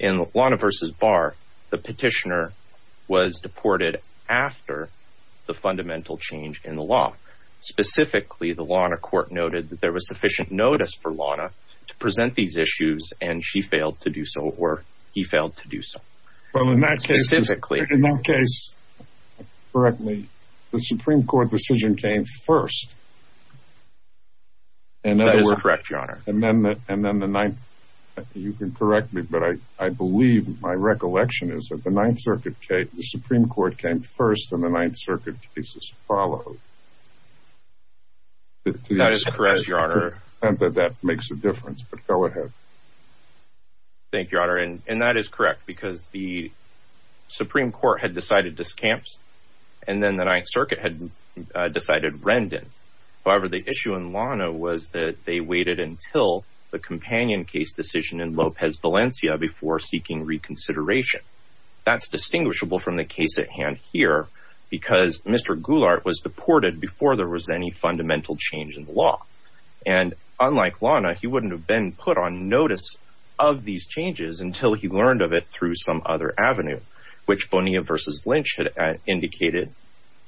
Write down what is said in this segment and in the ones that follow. In Lana v. Barr, the petitioner was deported after the fundamental change in the law. Specifically, the Lana court noted that there was sufficient notice for Lana to present these issues and she failed to do so, or he failed to do so. Well, in that case, in that case, correctly, the Supreme Court decision came first. And that is correct, your honor. And then the and then the ninth, you can correct me, but I, I believe my recollection is that the Ninth Circuit case, the Supreme Court came first and the Ninth Circuit cases followed. That is correct, your honor. And that that makes a difference. But go ahead. Thank you, your honor. And that is correct, because the Supreme Court had decided Discamps and then the Ninth Circuit had decided Rendon. However, the issue in Lana was that they waited until the companion case decision in Lopez Valencia before seeking reconsideration. That's distinguishable from the case at hand here because Mr. Goulart was deported before there was any fundamental change in the law. And unlike Lana, he wouldn't have been put on notice of these changes until he learned of it through some other avenue, which Bonilla versus Lynch had indicated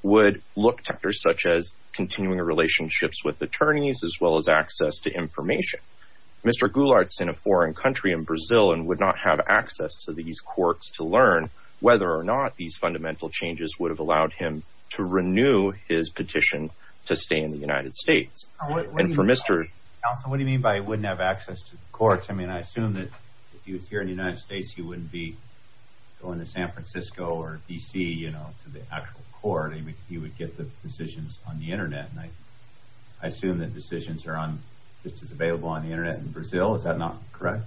would look to actors such as continuing relationships with attorneys as well as access to information. Mr. Goulart's in a foreign country in Brazil and would not have access to these courts to learn whether or not these fundamental changes would have allowed him to renew his petition to stay in the United States. And for Mr. Also, what do you mean by wouldn't have access to courts? I mean, I assume that if he was here in the United States, he wouldn't be going to San Francisco or D.C., you know, to the actual court. I mean, he would get the decisions on the Internet. And I assume that decisions are on just as available on the Internet in Brazil. Is that not correct?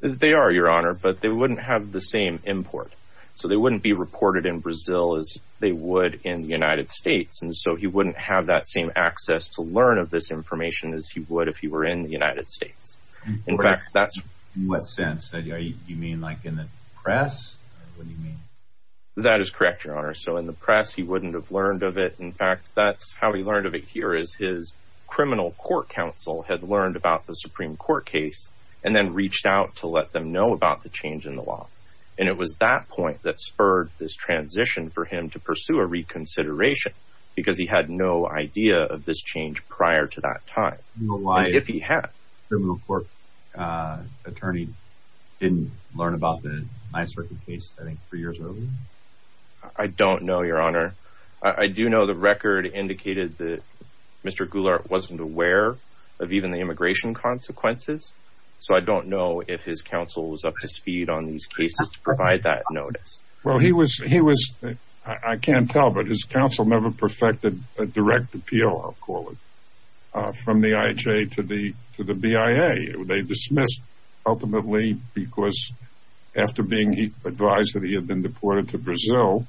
They are, your honor, but they wouldn't have the same import. So they wouldn't be reported in Brazil as they would in the United States. And so he wouldn't have that same access to learn of this information as he would if he were in the United States. In fact, that's what sense that you mean, like in the press, what do you mean? That is correct, your honor. So in the press, he wouldn't have learned of it. In fact, that's how he learned of it. Here is his criminal court counsel had learned about the Supreme Court case and then reached out to let them know about the change in the law. And it was that point that spurred this transition for him to pursue a reconsideration because he had no idea of this change prior to that time. You know why, if he had a criminal court attorney, didn't learn about the NYSERDA case, I think, three years earlier. I don't know, your honor. I do know the record indicated that Mr. Goulart wasn't aware of even the immigration consequences. So I don't know if his counsel was up to speed on these cases to provide that notice. Well, he was he was I can't tell, but his counsel never perfected a direct appeal, I'll call it, from the IHA to the to the BIA. They dismissed ultimately because after being advised that he had been deported to Brazil,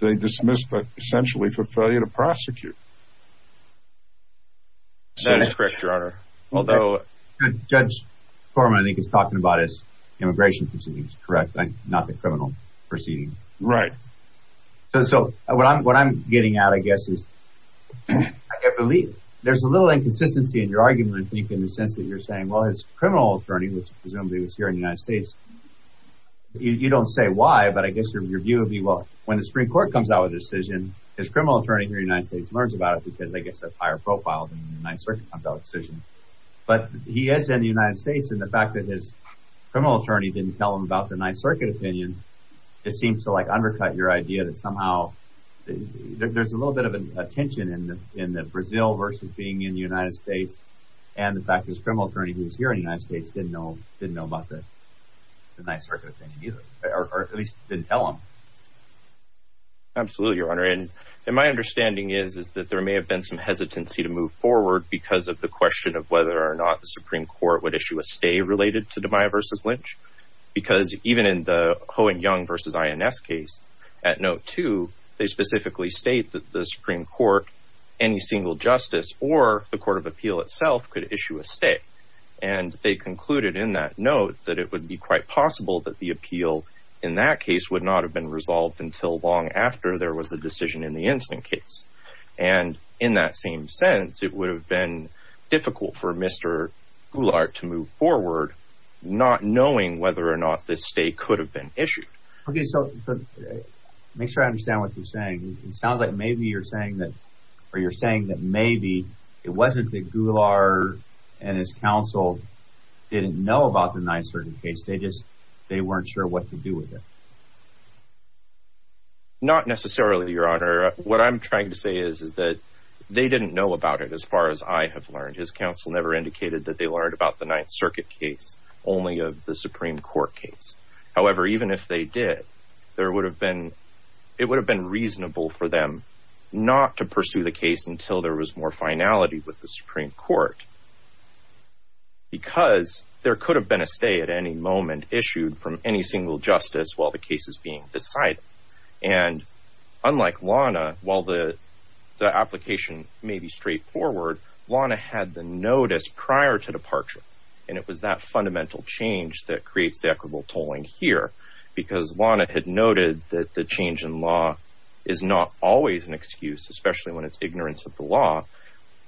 they dismissed essentially for failure to prosecute. That is correct, your honor, although Judge Foreman, I think, is talking about his immigration proceedings, correct, not the criminal proceedings, right? So what I'm getting at, I guess, is I believe there's a little inconsistency in your argument, I think, in the sense that you're saying, well, his criminal attorney, which presumably was here in the United States, you don't say why, but I guess your view would be, well, when the Supreme Court comes out with a decision, his criminal attorney here in the United States learns about it. Because I guess a higher profile than the United Circuit comes out with a decision. But he is in the United States. And the fact that his criminal attorney didn't tell him about the Ninth Circuit opinion, it seems to like undercut your idea that somehow there's a little bit of a tension in the in the Brazil versus being in the United States. And the fact his criminal attorney who was here in the United States didn't know, didn't know about the Ninth Circuit opinion either, or at least didn't tell him. Absolutely, Your Honor. And my understanding is, is that there may have been some hesitancy to move forward because of the question of whether or not the Supreme Court would issue a stay related to DeMaia versus Lynch. Because even in the Ho and Young versus INS case, at note two, they specifically state that the Supreme Court, any single justice or the Court of Appeal itself could issue a stay. And they concluded in that note that it would be quite possible that the appeal in that case would not have been resolved until long after there was a decision in the instant case. And in that same sense, it would have been difficult for Mr. Goulart to move forward, not knowing whether or not this stay could have been issued. OK, so make sure I understand what you're saying. It sounds like maybe you're saying that or you're saying that maybe it wasn't that Goulart and his counsel didn't know about the Ninth Circuit case. They just they weren't sure what to do with it. Not necessarily, Your Honor, what I'm trying to say is, is that they didn't know about it. As far as I have learned, his counsel never indicated that they learned about the Ninth Circuit case, only of the Supreme Court case. However, even if they did, there would have been it would have been reasonable for them not to pursue the case until there was more finality with the Supreme Court. Because there could have been a stay at any moment issued from any single justice while the case is being decided, and unlike Lana, while the application may be straightforward, Lana had the notice prior to departure. And it was that fundamental change that creates the equitable tolling here, because Lana had noted that the change in law is not always an excuse, especially when it's ignorance of the law.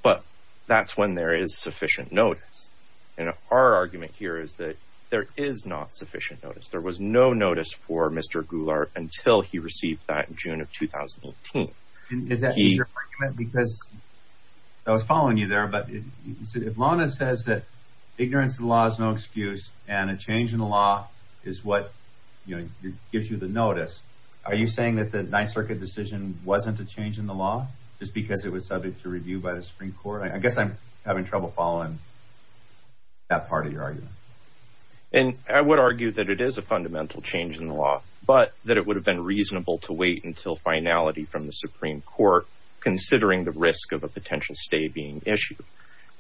But that's when there is sufficient notice. And our argument here is that there is not sufficient notice. There was no notice for Mr. Goulart until he received that in June of 2018. Is that your argument? Because I was following you there, but if Lana says that ignorance of the law is no excuse and a change in the law is what gives you the notice, are you saying that the Ninth Circuit decision wasn't a change in the law just because it was subject to review by the Supreme Court? I guess I'm having trouble following that part of your argument. And I would argue that it is a fundamental change in the law, but that it would have been reasonable to wait until finality from the Supreme Court, considering the risk of a potential stay being issued.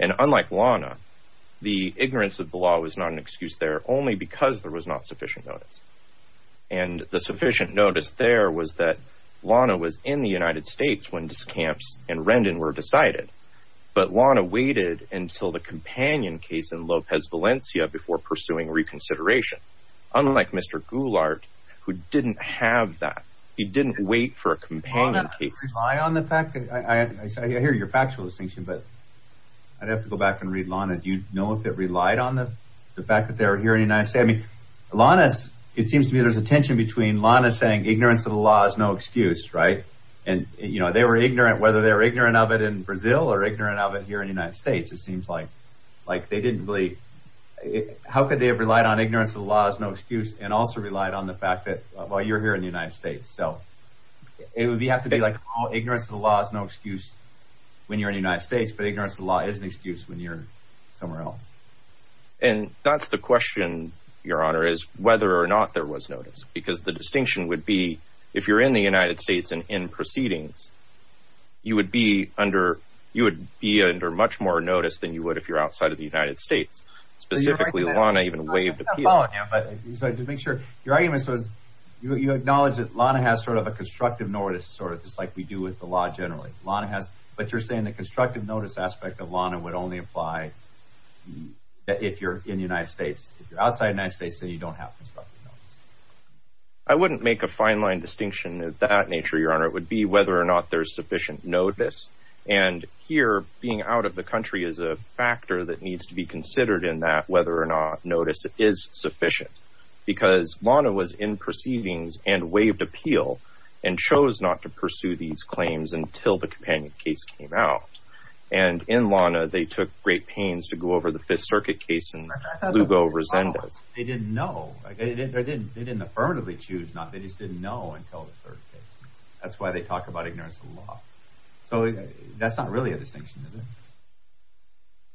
And unlike Lana, the ignorance of the law was not an excuse there only because there was not sufficient notice. And the sufficient notice there was that Lana was in the United States when Discamps and Rendon were decided, but Lana waited until the companion case in Lopez Valencia before pursuing reconsideration. Unlike Mr. Goulart, who didn't have that, he didn't wait for a companion case on the fact that I hear your factual distinction, but I'd have to go back and read Lana. Do you know if it relied on the fact that they're here in the United States? I mean, Lana's it seems to me there's a tension between Lana saying ignorance of the law is no excuse. Right. And, you know, they were ignorant, whether they're ignorant of it in Brazil or ignorant of it here in the United States. It seems like like they didn't really. How could they have relied on ignorance of the law as no excuse and also relied on the fact that while you're here in the United States, so it would have to be like ignorance of the law is no excuse when you're in the United States. But ignorance of the law is an excuse when you're somewhere else. And that's the question, Your Honor, is whether or not there was notice, because the distinction would be if you're in the United States and in proceedings, you would be under you would be under much more notice than you would if you're outside of the United States. Specifically, Lana even waived. But to make sure your argument says you acknowledge that Lana has sort of a constructive notice sort of just like we do with the law. Generally, Lana has. But you're saying the constructive notice aspect of Lana would only apply if you're in the United States. If you're outside United States, then you don't have. I wouldn't make a fine line distinction of that nature, Your Honor, it would be whether or not there's sufficient notice. And here being out of the country is a factor that needs to be considered in that whether or not notice is sufficient, because Lana was in proceedings and waived appeal and chose not to pursue these claims until the companion case came out. And in Lana, they took great pains to go over the Fifth Circuit case and Lugo Resendez. They didn't know. They didn't affirmatively choose not. They just didn't know until the third case. So that's not really a distinction, is it?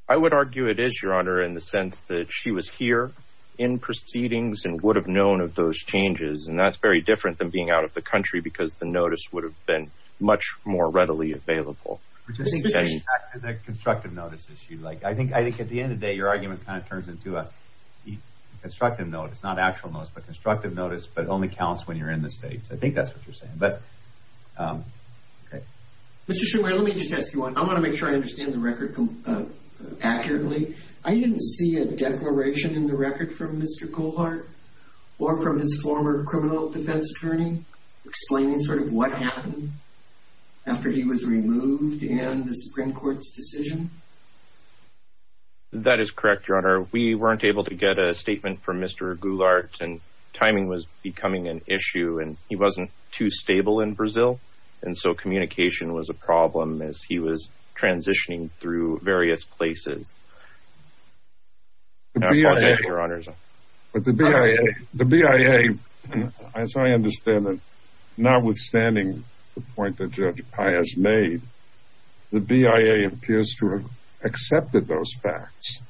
I would argue it is, Your Honor, in the sense that she was here in proceedings and would have known of those changes. And that's very different than being out of the country, because the notice would have been much more readily available. Which is a constructive notice issue. Like, I think I think at the end of the day, your argument kind of turns into a constructive notice, not actual notice, but constructive notice. But it only counts when you're in the States. I think that's what you're saying. But Mr. Schubert, let me just ask you, I want to make sure I understand the record accurately. I didn't see a declaration in the record from Mr. Goulart or from his former criminal defense attorney explaining sort of what happened after he was removed in the Supreme Court's decision. That is correct, Your Honor. We weren't able to get a statement from Mr. Goulart and timing was becoming an issue and he wasn't too stable in Brazil. And so communication was a problem as he was transitioning through various places. But the BIA, the BIA, as I understand it, notwithstanding the point that Judge Pai has made, the BIA appears to have accepted those facts.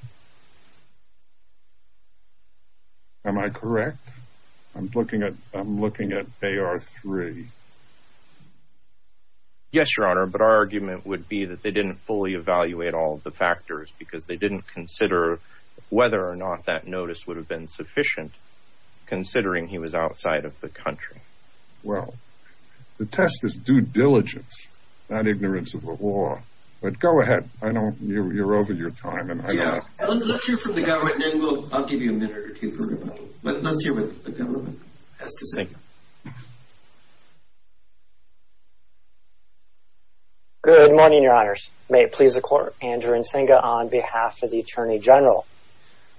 Am I correct? I'm looking at I'm looking at AR-3. Yes, Your Honor. But our argument would be that they didn't fully evaluate all of the factors because they didn't consider whether or not that notice would have been sufficient considering he was outside of the country. Well, the test is due diligence, not ignorance of the law. But go ahead. I know you're over your time and I'll give you a minute or two, but let's hear what the government has to say. Good morning, Your Honors, may it please the Court. Andrew Nzinga on behalf of the Attorney General.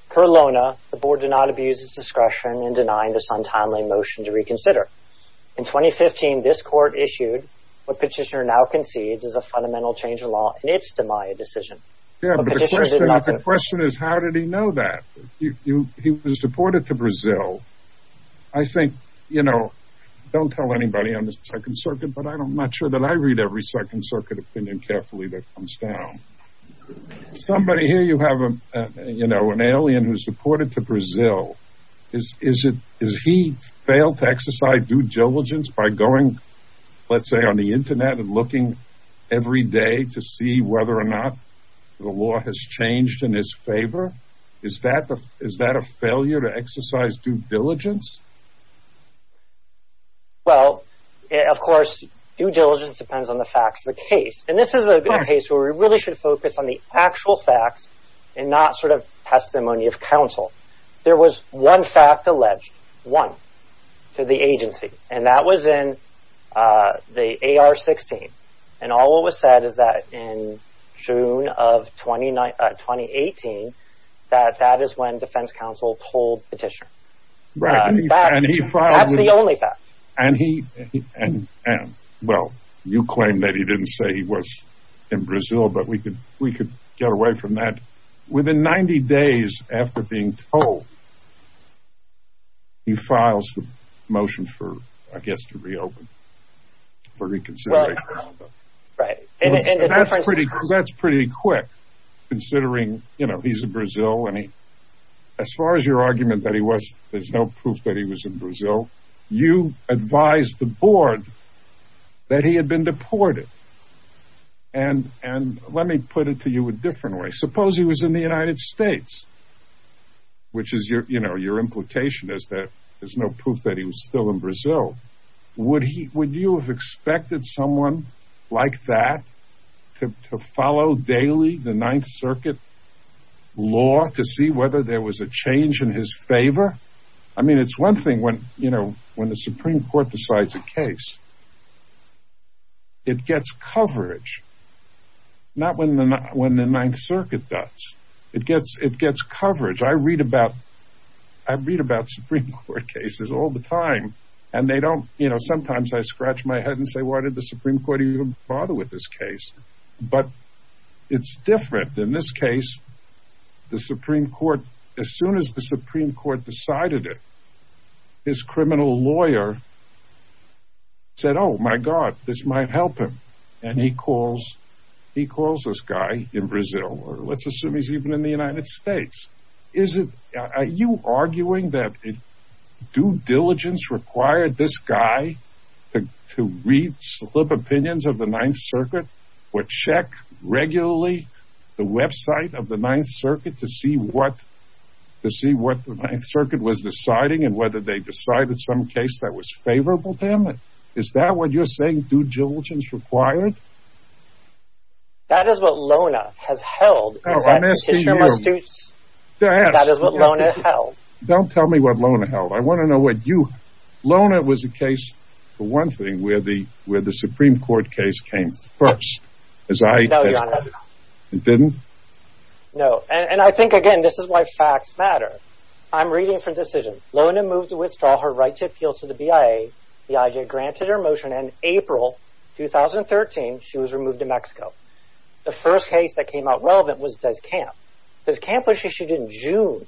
Per LONA, the board did not abuse its discretion in denying this untimely motion to reconsider. In 2015, this court issued what Petitioner now concedes is a fundamental change of law in its demise decision. The question is, how did he know that he was deported to Brazil? I think, you know, don't tell anybody on the Second Circuit, but I'm not sure that I read every Second Circuit opinion carefully that comes down. Somebody here, you have, you know, an alien who's deported to Brazil. Is it is he failed to exercise due diligence by going, let's say, on the Internet and looking every day to see whether or not the law has changed in his favor? Is that is that a failure to exercise due diligence? Well, of course, due diligence depends on the facts of the case, and this is a case where we really should focus on the actual facts and not sort of testimony of counsel. There was one fact alleged, one, to the agency, and that was in the AR-16. And all it was said is that in June of 2018, that that is when Defense Counsel told Petitioner. Right. And he found the only fact and he and and well, you claim that he didn't say he was in Brazil, but we could we could get away from that within 90 days after being told. He files for motion for, I guess, to reopen. For reconsideration. Right. And that's pretty that's pretty quick, considering, you know, he's in Brazil. I mean, as far as your argument that he was there's no proof that he was in Brazil. You advised the board that he had been deported. And and let me put it to you a different way. Suppose he was in the United States. Which is your you know, your implication is that there's no proof that he was still in Brazil. Would he would you have expected someone like that to follow daily the Ninth Circuit law to see whether there was a change in his favor? I mean, it's one thing when you know, when the Supreme Court decides a case. It gets coverage. Not when the when the Ninth Circuit does. It gets it gets coverage. I read about I read about Supreme Court cases all the time and they don't you know, sometimes I scratch my head and say, why did the Supreme Court even bother with this case? But it's different in this case. The Supreme Court, as soon as the Supreme Court decided it. His criminal lawyer. Said, oh, my God, this might help him. And he calls he calls this guy in Brazil or let's assume he's even in the United States. Is it you arguing that due diligence required this guy to read slip opinions of the Ninth Circuit, which check regularly the website of the Ninth Circuit to see what to see what the Ninth Circuit was deciding and whether they decided some case that was favorable to him? Is that what you're saying? Due diligence required. That is what Lona has held. I'm asking you to ask that is what Lona held. Don't tell me what Lona held. I want to know what you Lona was a case for one thing, where the where the Supreme Court case came first, as I know you didn't know. And I think, again, this is why facts matter. I'm reading for decision. Lona moved to withdraw her right to appeal to the BIA. The IJ granted her motion in April 2013. She was removed to Mexico. The first case that came out relevant was camp because campus issued in June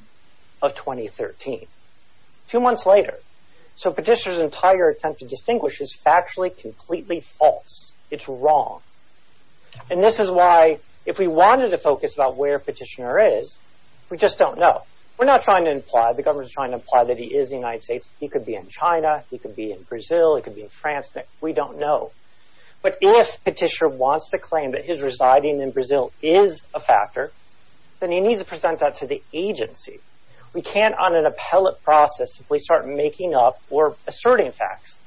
of 2013, two months later. So Petitioner's entire attempt to distinguish is factually completely false. It's wrong. And this is why if we wanted to focus about where Petitioner is, we just don't know. We're not trying to imply the government's trying to imply that he is the United States. He could be in China. He could be in Brazil. It could be in France that we don't know. But if Petitioner wants to claim that his residing in Brazil is a factor, then he needs to present that to the agency. We can't on an appellate process if we start making up or asserting facts.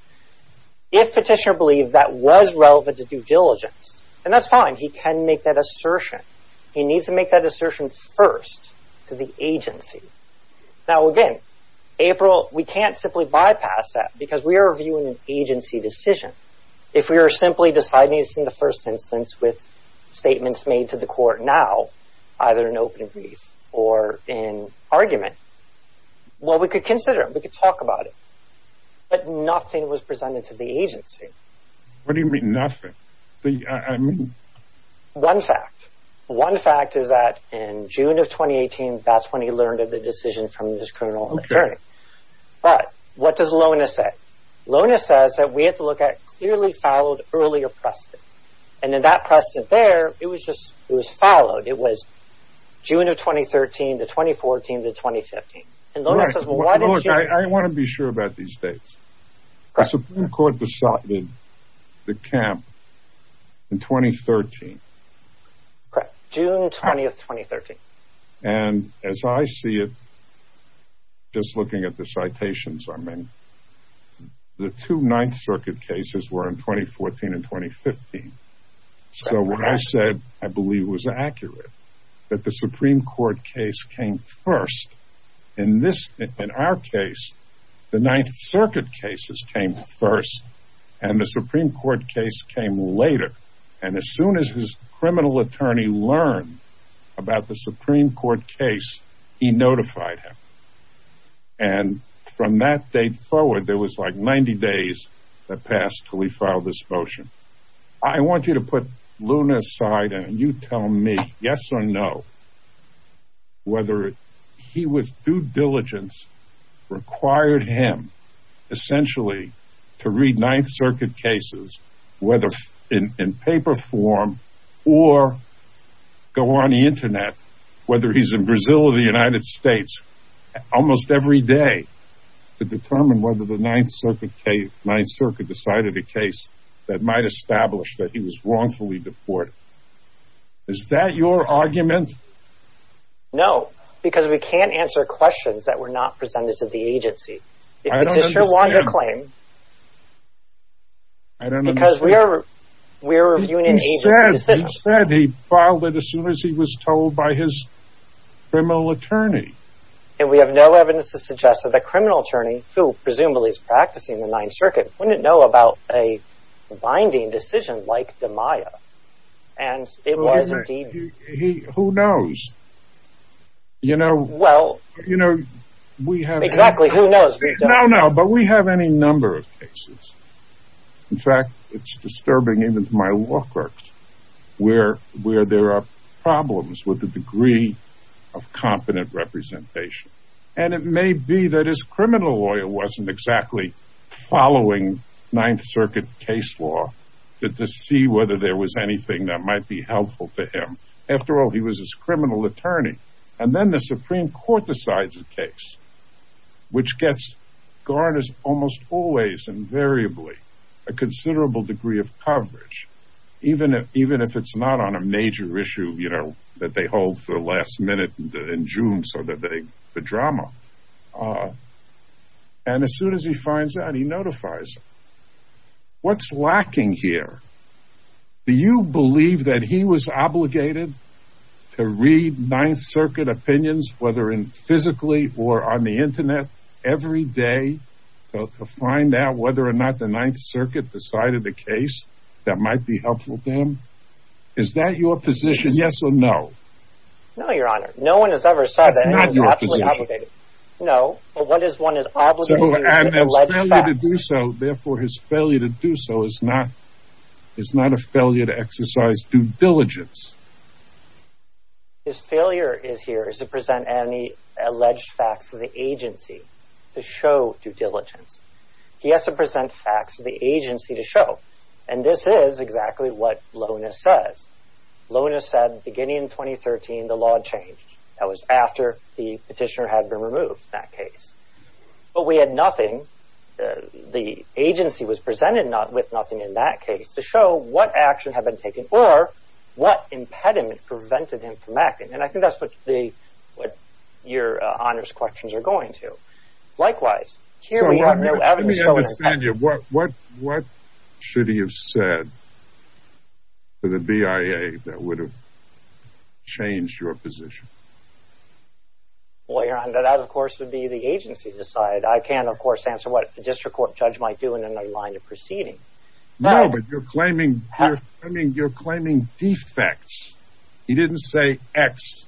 If Petitioner believed that was relevant to due diligence, and that's fine, he can make that assertion. He needs to make that assertion first to the agency. Now, again, April, we can't simply bypass that because we are reviewing an agency decision. If we are simply deciding this in the first instance with statements made to the court now, either in open brief or in argument. Well, we could consider it. We could talk about it. But nothing was presented to the agency. What do you mean nothing? I mean, one fact, one fact is that in June of 2018, that's when he learned of the decision from his criminal attorney. But what does Lona say? Lona says that we have to look at clearly followed earlier precedent. And in that precedent there, it was just it was followed. It was June of 2013 to 2014 to 2015. And Lona says, well, I want to be sure about these dates. The Supreme Court decided the camp in 2013. Correct. June 20th, 2013. And as I see it, just looking at the citations, I mean, the two Ninth Circuit cases were in 2014 and 2015. So what I said, I believe was accurate that the Supreme Court case came first in this in our case. The Ninth Circuit cases came first and the Supreme Court case came later. And as soon as his criminal attorney learned about the Supreme Court case, he notified him. And from that date forward, there was like 90 days that passed till he filed this motion. I want you to put Lona aside and you tell me yes or no. Whether he was due diligence required him essentially to read Ninth Circuit cases, whether in paper form or go on the Internet, whether he's in Brazil or the United States, almost every day to determine whether the Ninth Circuit decided a case that might establish that he was wrongfully deported. Is that your argument? No, because we can't answer questions that were not presented to the agency. Is this your claim? I don't know because we are we're reviewing said he filed it as soon as he was told by his criminal attorney. And we have no evidence to suggest that the criminal attorney, who presumably is practicing the Ninth Circuit, wouldn't know about a binding decision like the Maya. And it was he who knows. You know, well, you know, we have exactly who knows. No, no. But we have any number of cases. In fact, it's disturbing in my work where where there are problems with the degree of competent representation. And it may be that his criminal lawyer wasn't exactly following Ninth Circuit case law to see whether there was anything that might be helpful to him. After all, he was his criminal attorney. And then the Supreme Court decides a case which gets garners almost always invariably a considerable degree of coverage, even if even if it's not on a major issue, you know, that they hold for the last minute in June. So that they the drama. And as soon as he finds out, he notifies what's lacking here. Do you believe that he was obligated to read Ninth Circuit opinions, whether in physically or on the Internet every day to find out whether or not the Ninth Circuit decided the case that might be helpful to him? Is that your position? Yes or no? No, your honor. No one has ever said that. Not your position. No. But what is one is obligated to do so. Therefore, his failure to do so is not is not a failure to exercise due diligence. His failure is here is to present any alleged facts of the agency to show due diligence. He has to present facts of the agency to show. And this is exactly what Lona says. Lona said beginning in 2013, the law changed. That was after the petitioner had been removed that case. But we had nothing. The agency was presented not with nothing in that case to show what action had been taken or what impediment prevented him from acting. And I think that's what the what your honors questions are going to. Likewise, here we have no evidence of what what what should he have said to the BIA that would have changed your position. Well, your honor, that, of course, would be the agency decide. I can, of course, answer what the district court judge might do in the line of proceeding. No, but you're claiming I mean, you're claiming defects. He didn't say X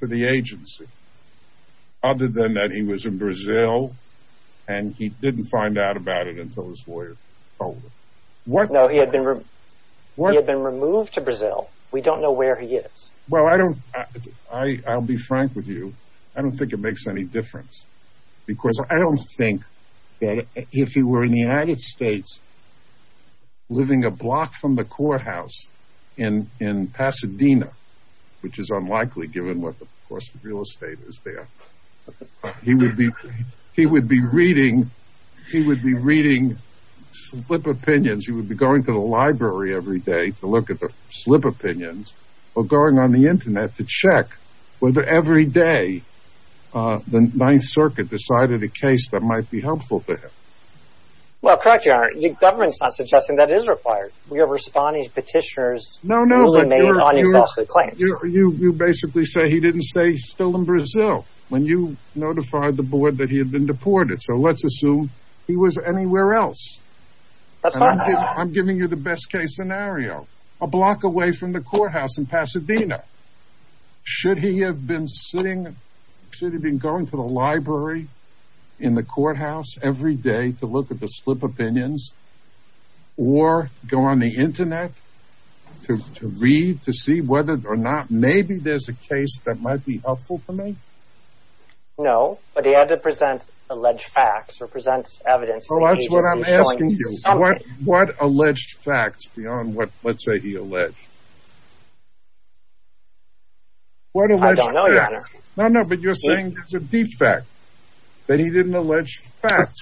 to the agency. Other than that, he was in Brazil and he didn't find out about it until his lawyer told him what he had been removed to Brazil. We don't know where he is. Well, I don't I'll be frank with you. I don't think it makes any difference because I don't think that if he were in the United States. Living a block from the courthouse in in Pasadena, which is unlikely given what the real estate is there, he would be he would be reading he would be reading slip opinions. He would be going to the library every day to look at the slip opinions or going on the Internet to check whether every day the Ninth Circuit decided a case that might be helpful to him. Well, correct. The government's not suggesting that is required. We have responding petitioners. No, no. But you're claiming you basically say he didn't stay still in Brazil when you notified the board that he had been deported. So let's assume he was anywhere else. I'm giving you the best case scenario, a block away from the courthouse in Pasadena. Should he have been sitting should have been going to the library in the courthouse every day to look at the slip opinions or go on the Internet to read, to see whether or not maybe there's a case that might be helpful for me? No, but he had to present alleged facts or presents evidence. Well, that's what I'm asking you. What alleged facts beyond what let's say he alleged? What do I don't know, no, no, but you're saying it's a defect that he didn't allege facts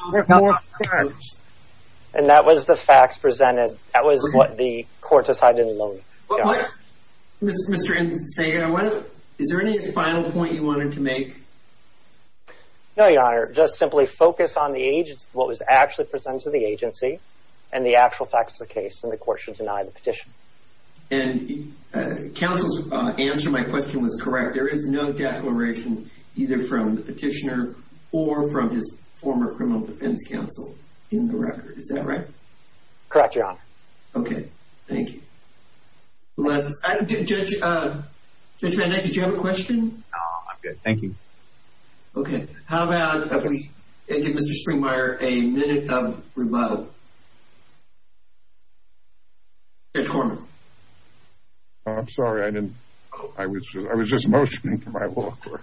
and that was the facts presented. That was what the court decided alone. Mr. And say, is there any final point you wanted to make? No, your honor, just simply focus on the age of what was actually presented to the agency and the actual facts of the case and the court should deny the petition. And counsel's answer to my question was correct. There is no declaration either from the petitioner or from his former criminal defense counsel in the record. Is that right? Correct, your honor. Okay. Thank you. Let's, did Judge Van Dyke, did you have a question? No, I'm good. Thank you. Okay. How about if we give Mr. Springmeier a minute of rebuttal? Judge Corman. I'm sorry. I didn't, I was just, I was just motioning to my law court.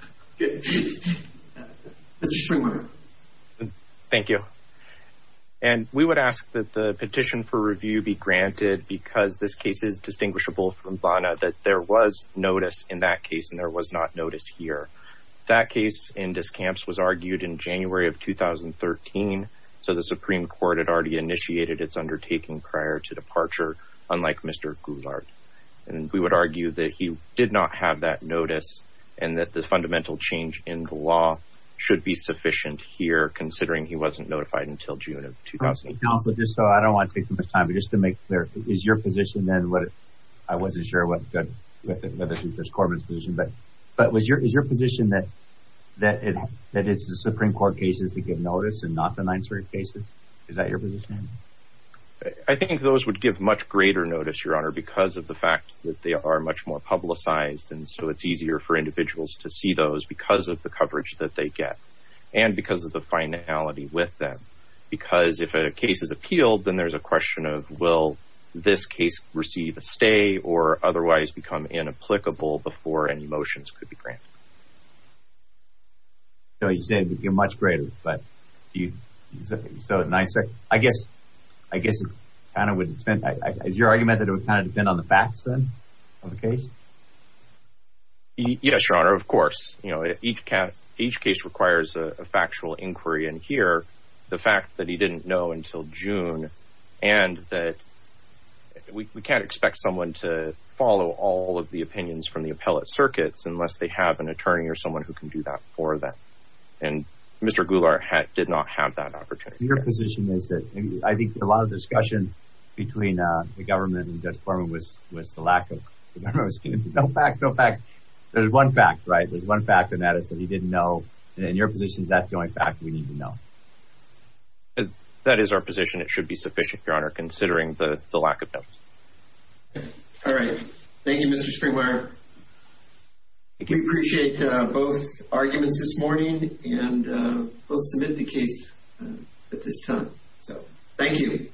Thank you. And we would ask that the petition for review be granted because this case is distinguishable from Bonner, that there was notice in that case. And there was not notice here. That case in Discamps was argued in January of 2013. So the Supreme court had already initiated its undertaking prior to departure, unlike Mr. Goulart. And we would argue that he did not have that notice and that the fundamental change in the law should be sufficient here, considering he wasn't notified until June of 2008. Counselor, just so I don't want to take too much time, but just to make clear, is your position then what, I wasn't sure what, whether it was Corman's position, but, but was your, is your position that, that, that it's the Supreme court cases that get noticed and not the 9-3-8 cases? Is that your position? I think those would give much greater notice, your honor, because of the fact that they are much more publicized. And so it's easier for individuals to see those because of the coverage that they get. And because of the finality with them, because if a case is appealed, then there's a question of, will this case receive a stay or otherwise become inapplicable before any motions could be granted? So you say it would be a much greater, but do you, so, so it's nicer, I guess, I guess it kind of would, is your argument that it would kind of depend on the facts then of the case? Yes, your honor, of course, you know, each case requires a factual inquiry. And here, the fact that he didn't know until June and that we can't expect someone to follow all of the opinions from the appellate circuits, unless they have an attorney or someone who can do that for them. And Mr. Goulart did not have that opportunity. Your position is that I think a lot of discussion between the government and Judge Corman was, was the lack of, no fact, no fact. There's one fact, right? There's one fact, and that is that he didn't know. And your position is that's the only fact we need to know. That is our position. It should be sufficient, your honor, considering the lack of notice. All right. Thank you, Mr. Springwire. We appreciate both arguments this morning and we'll submit the case at this time. So thank you.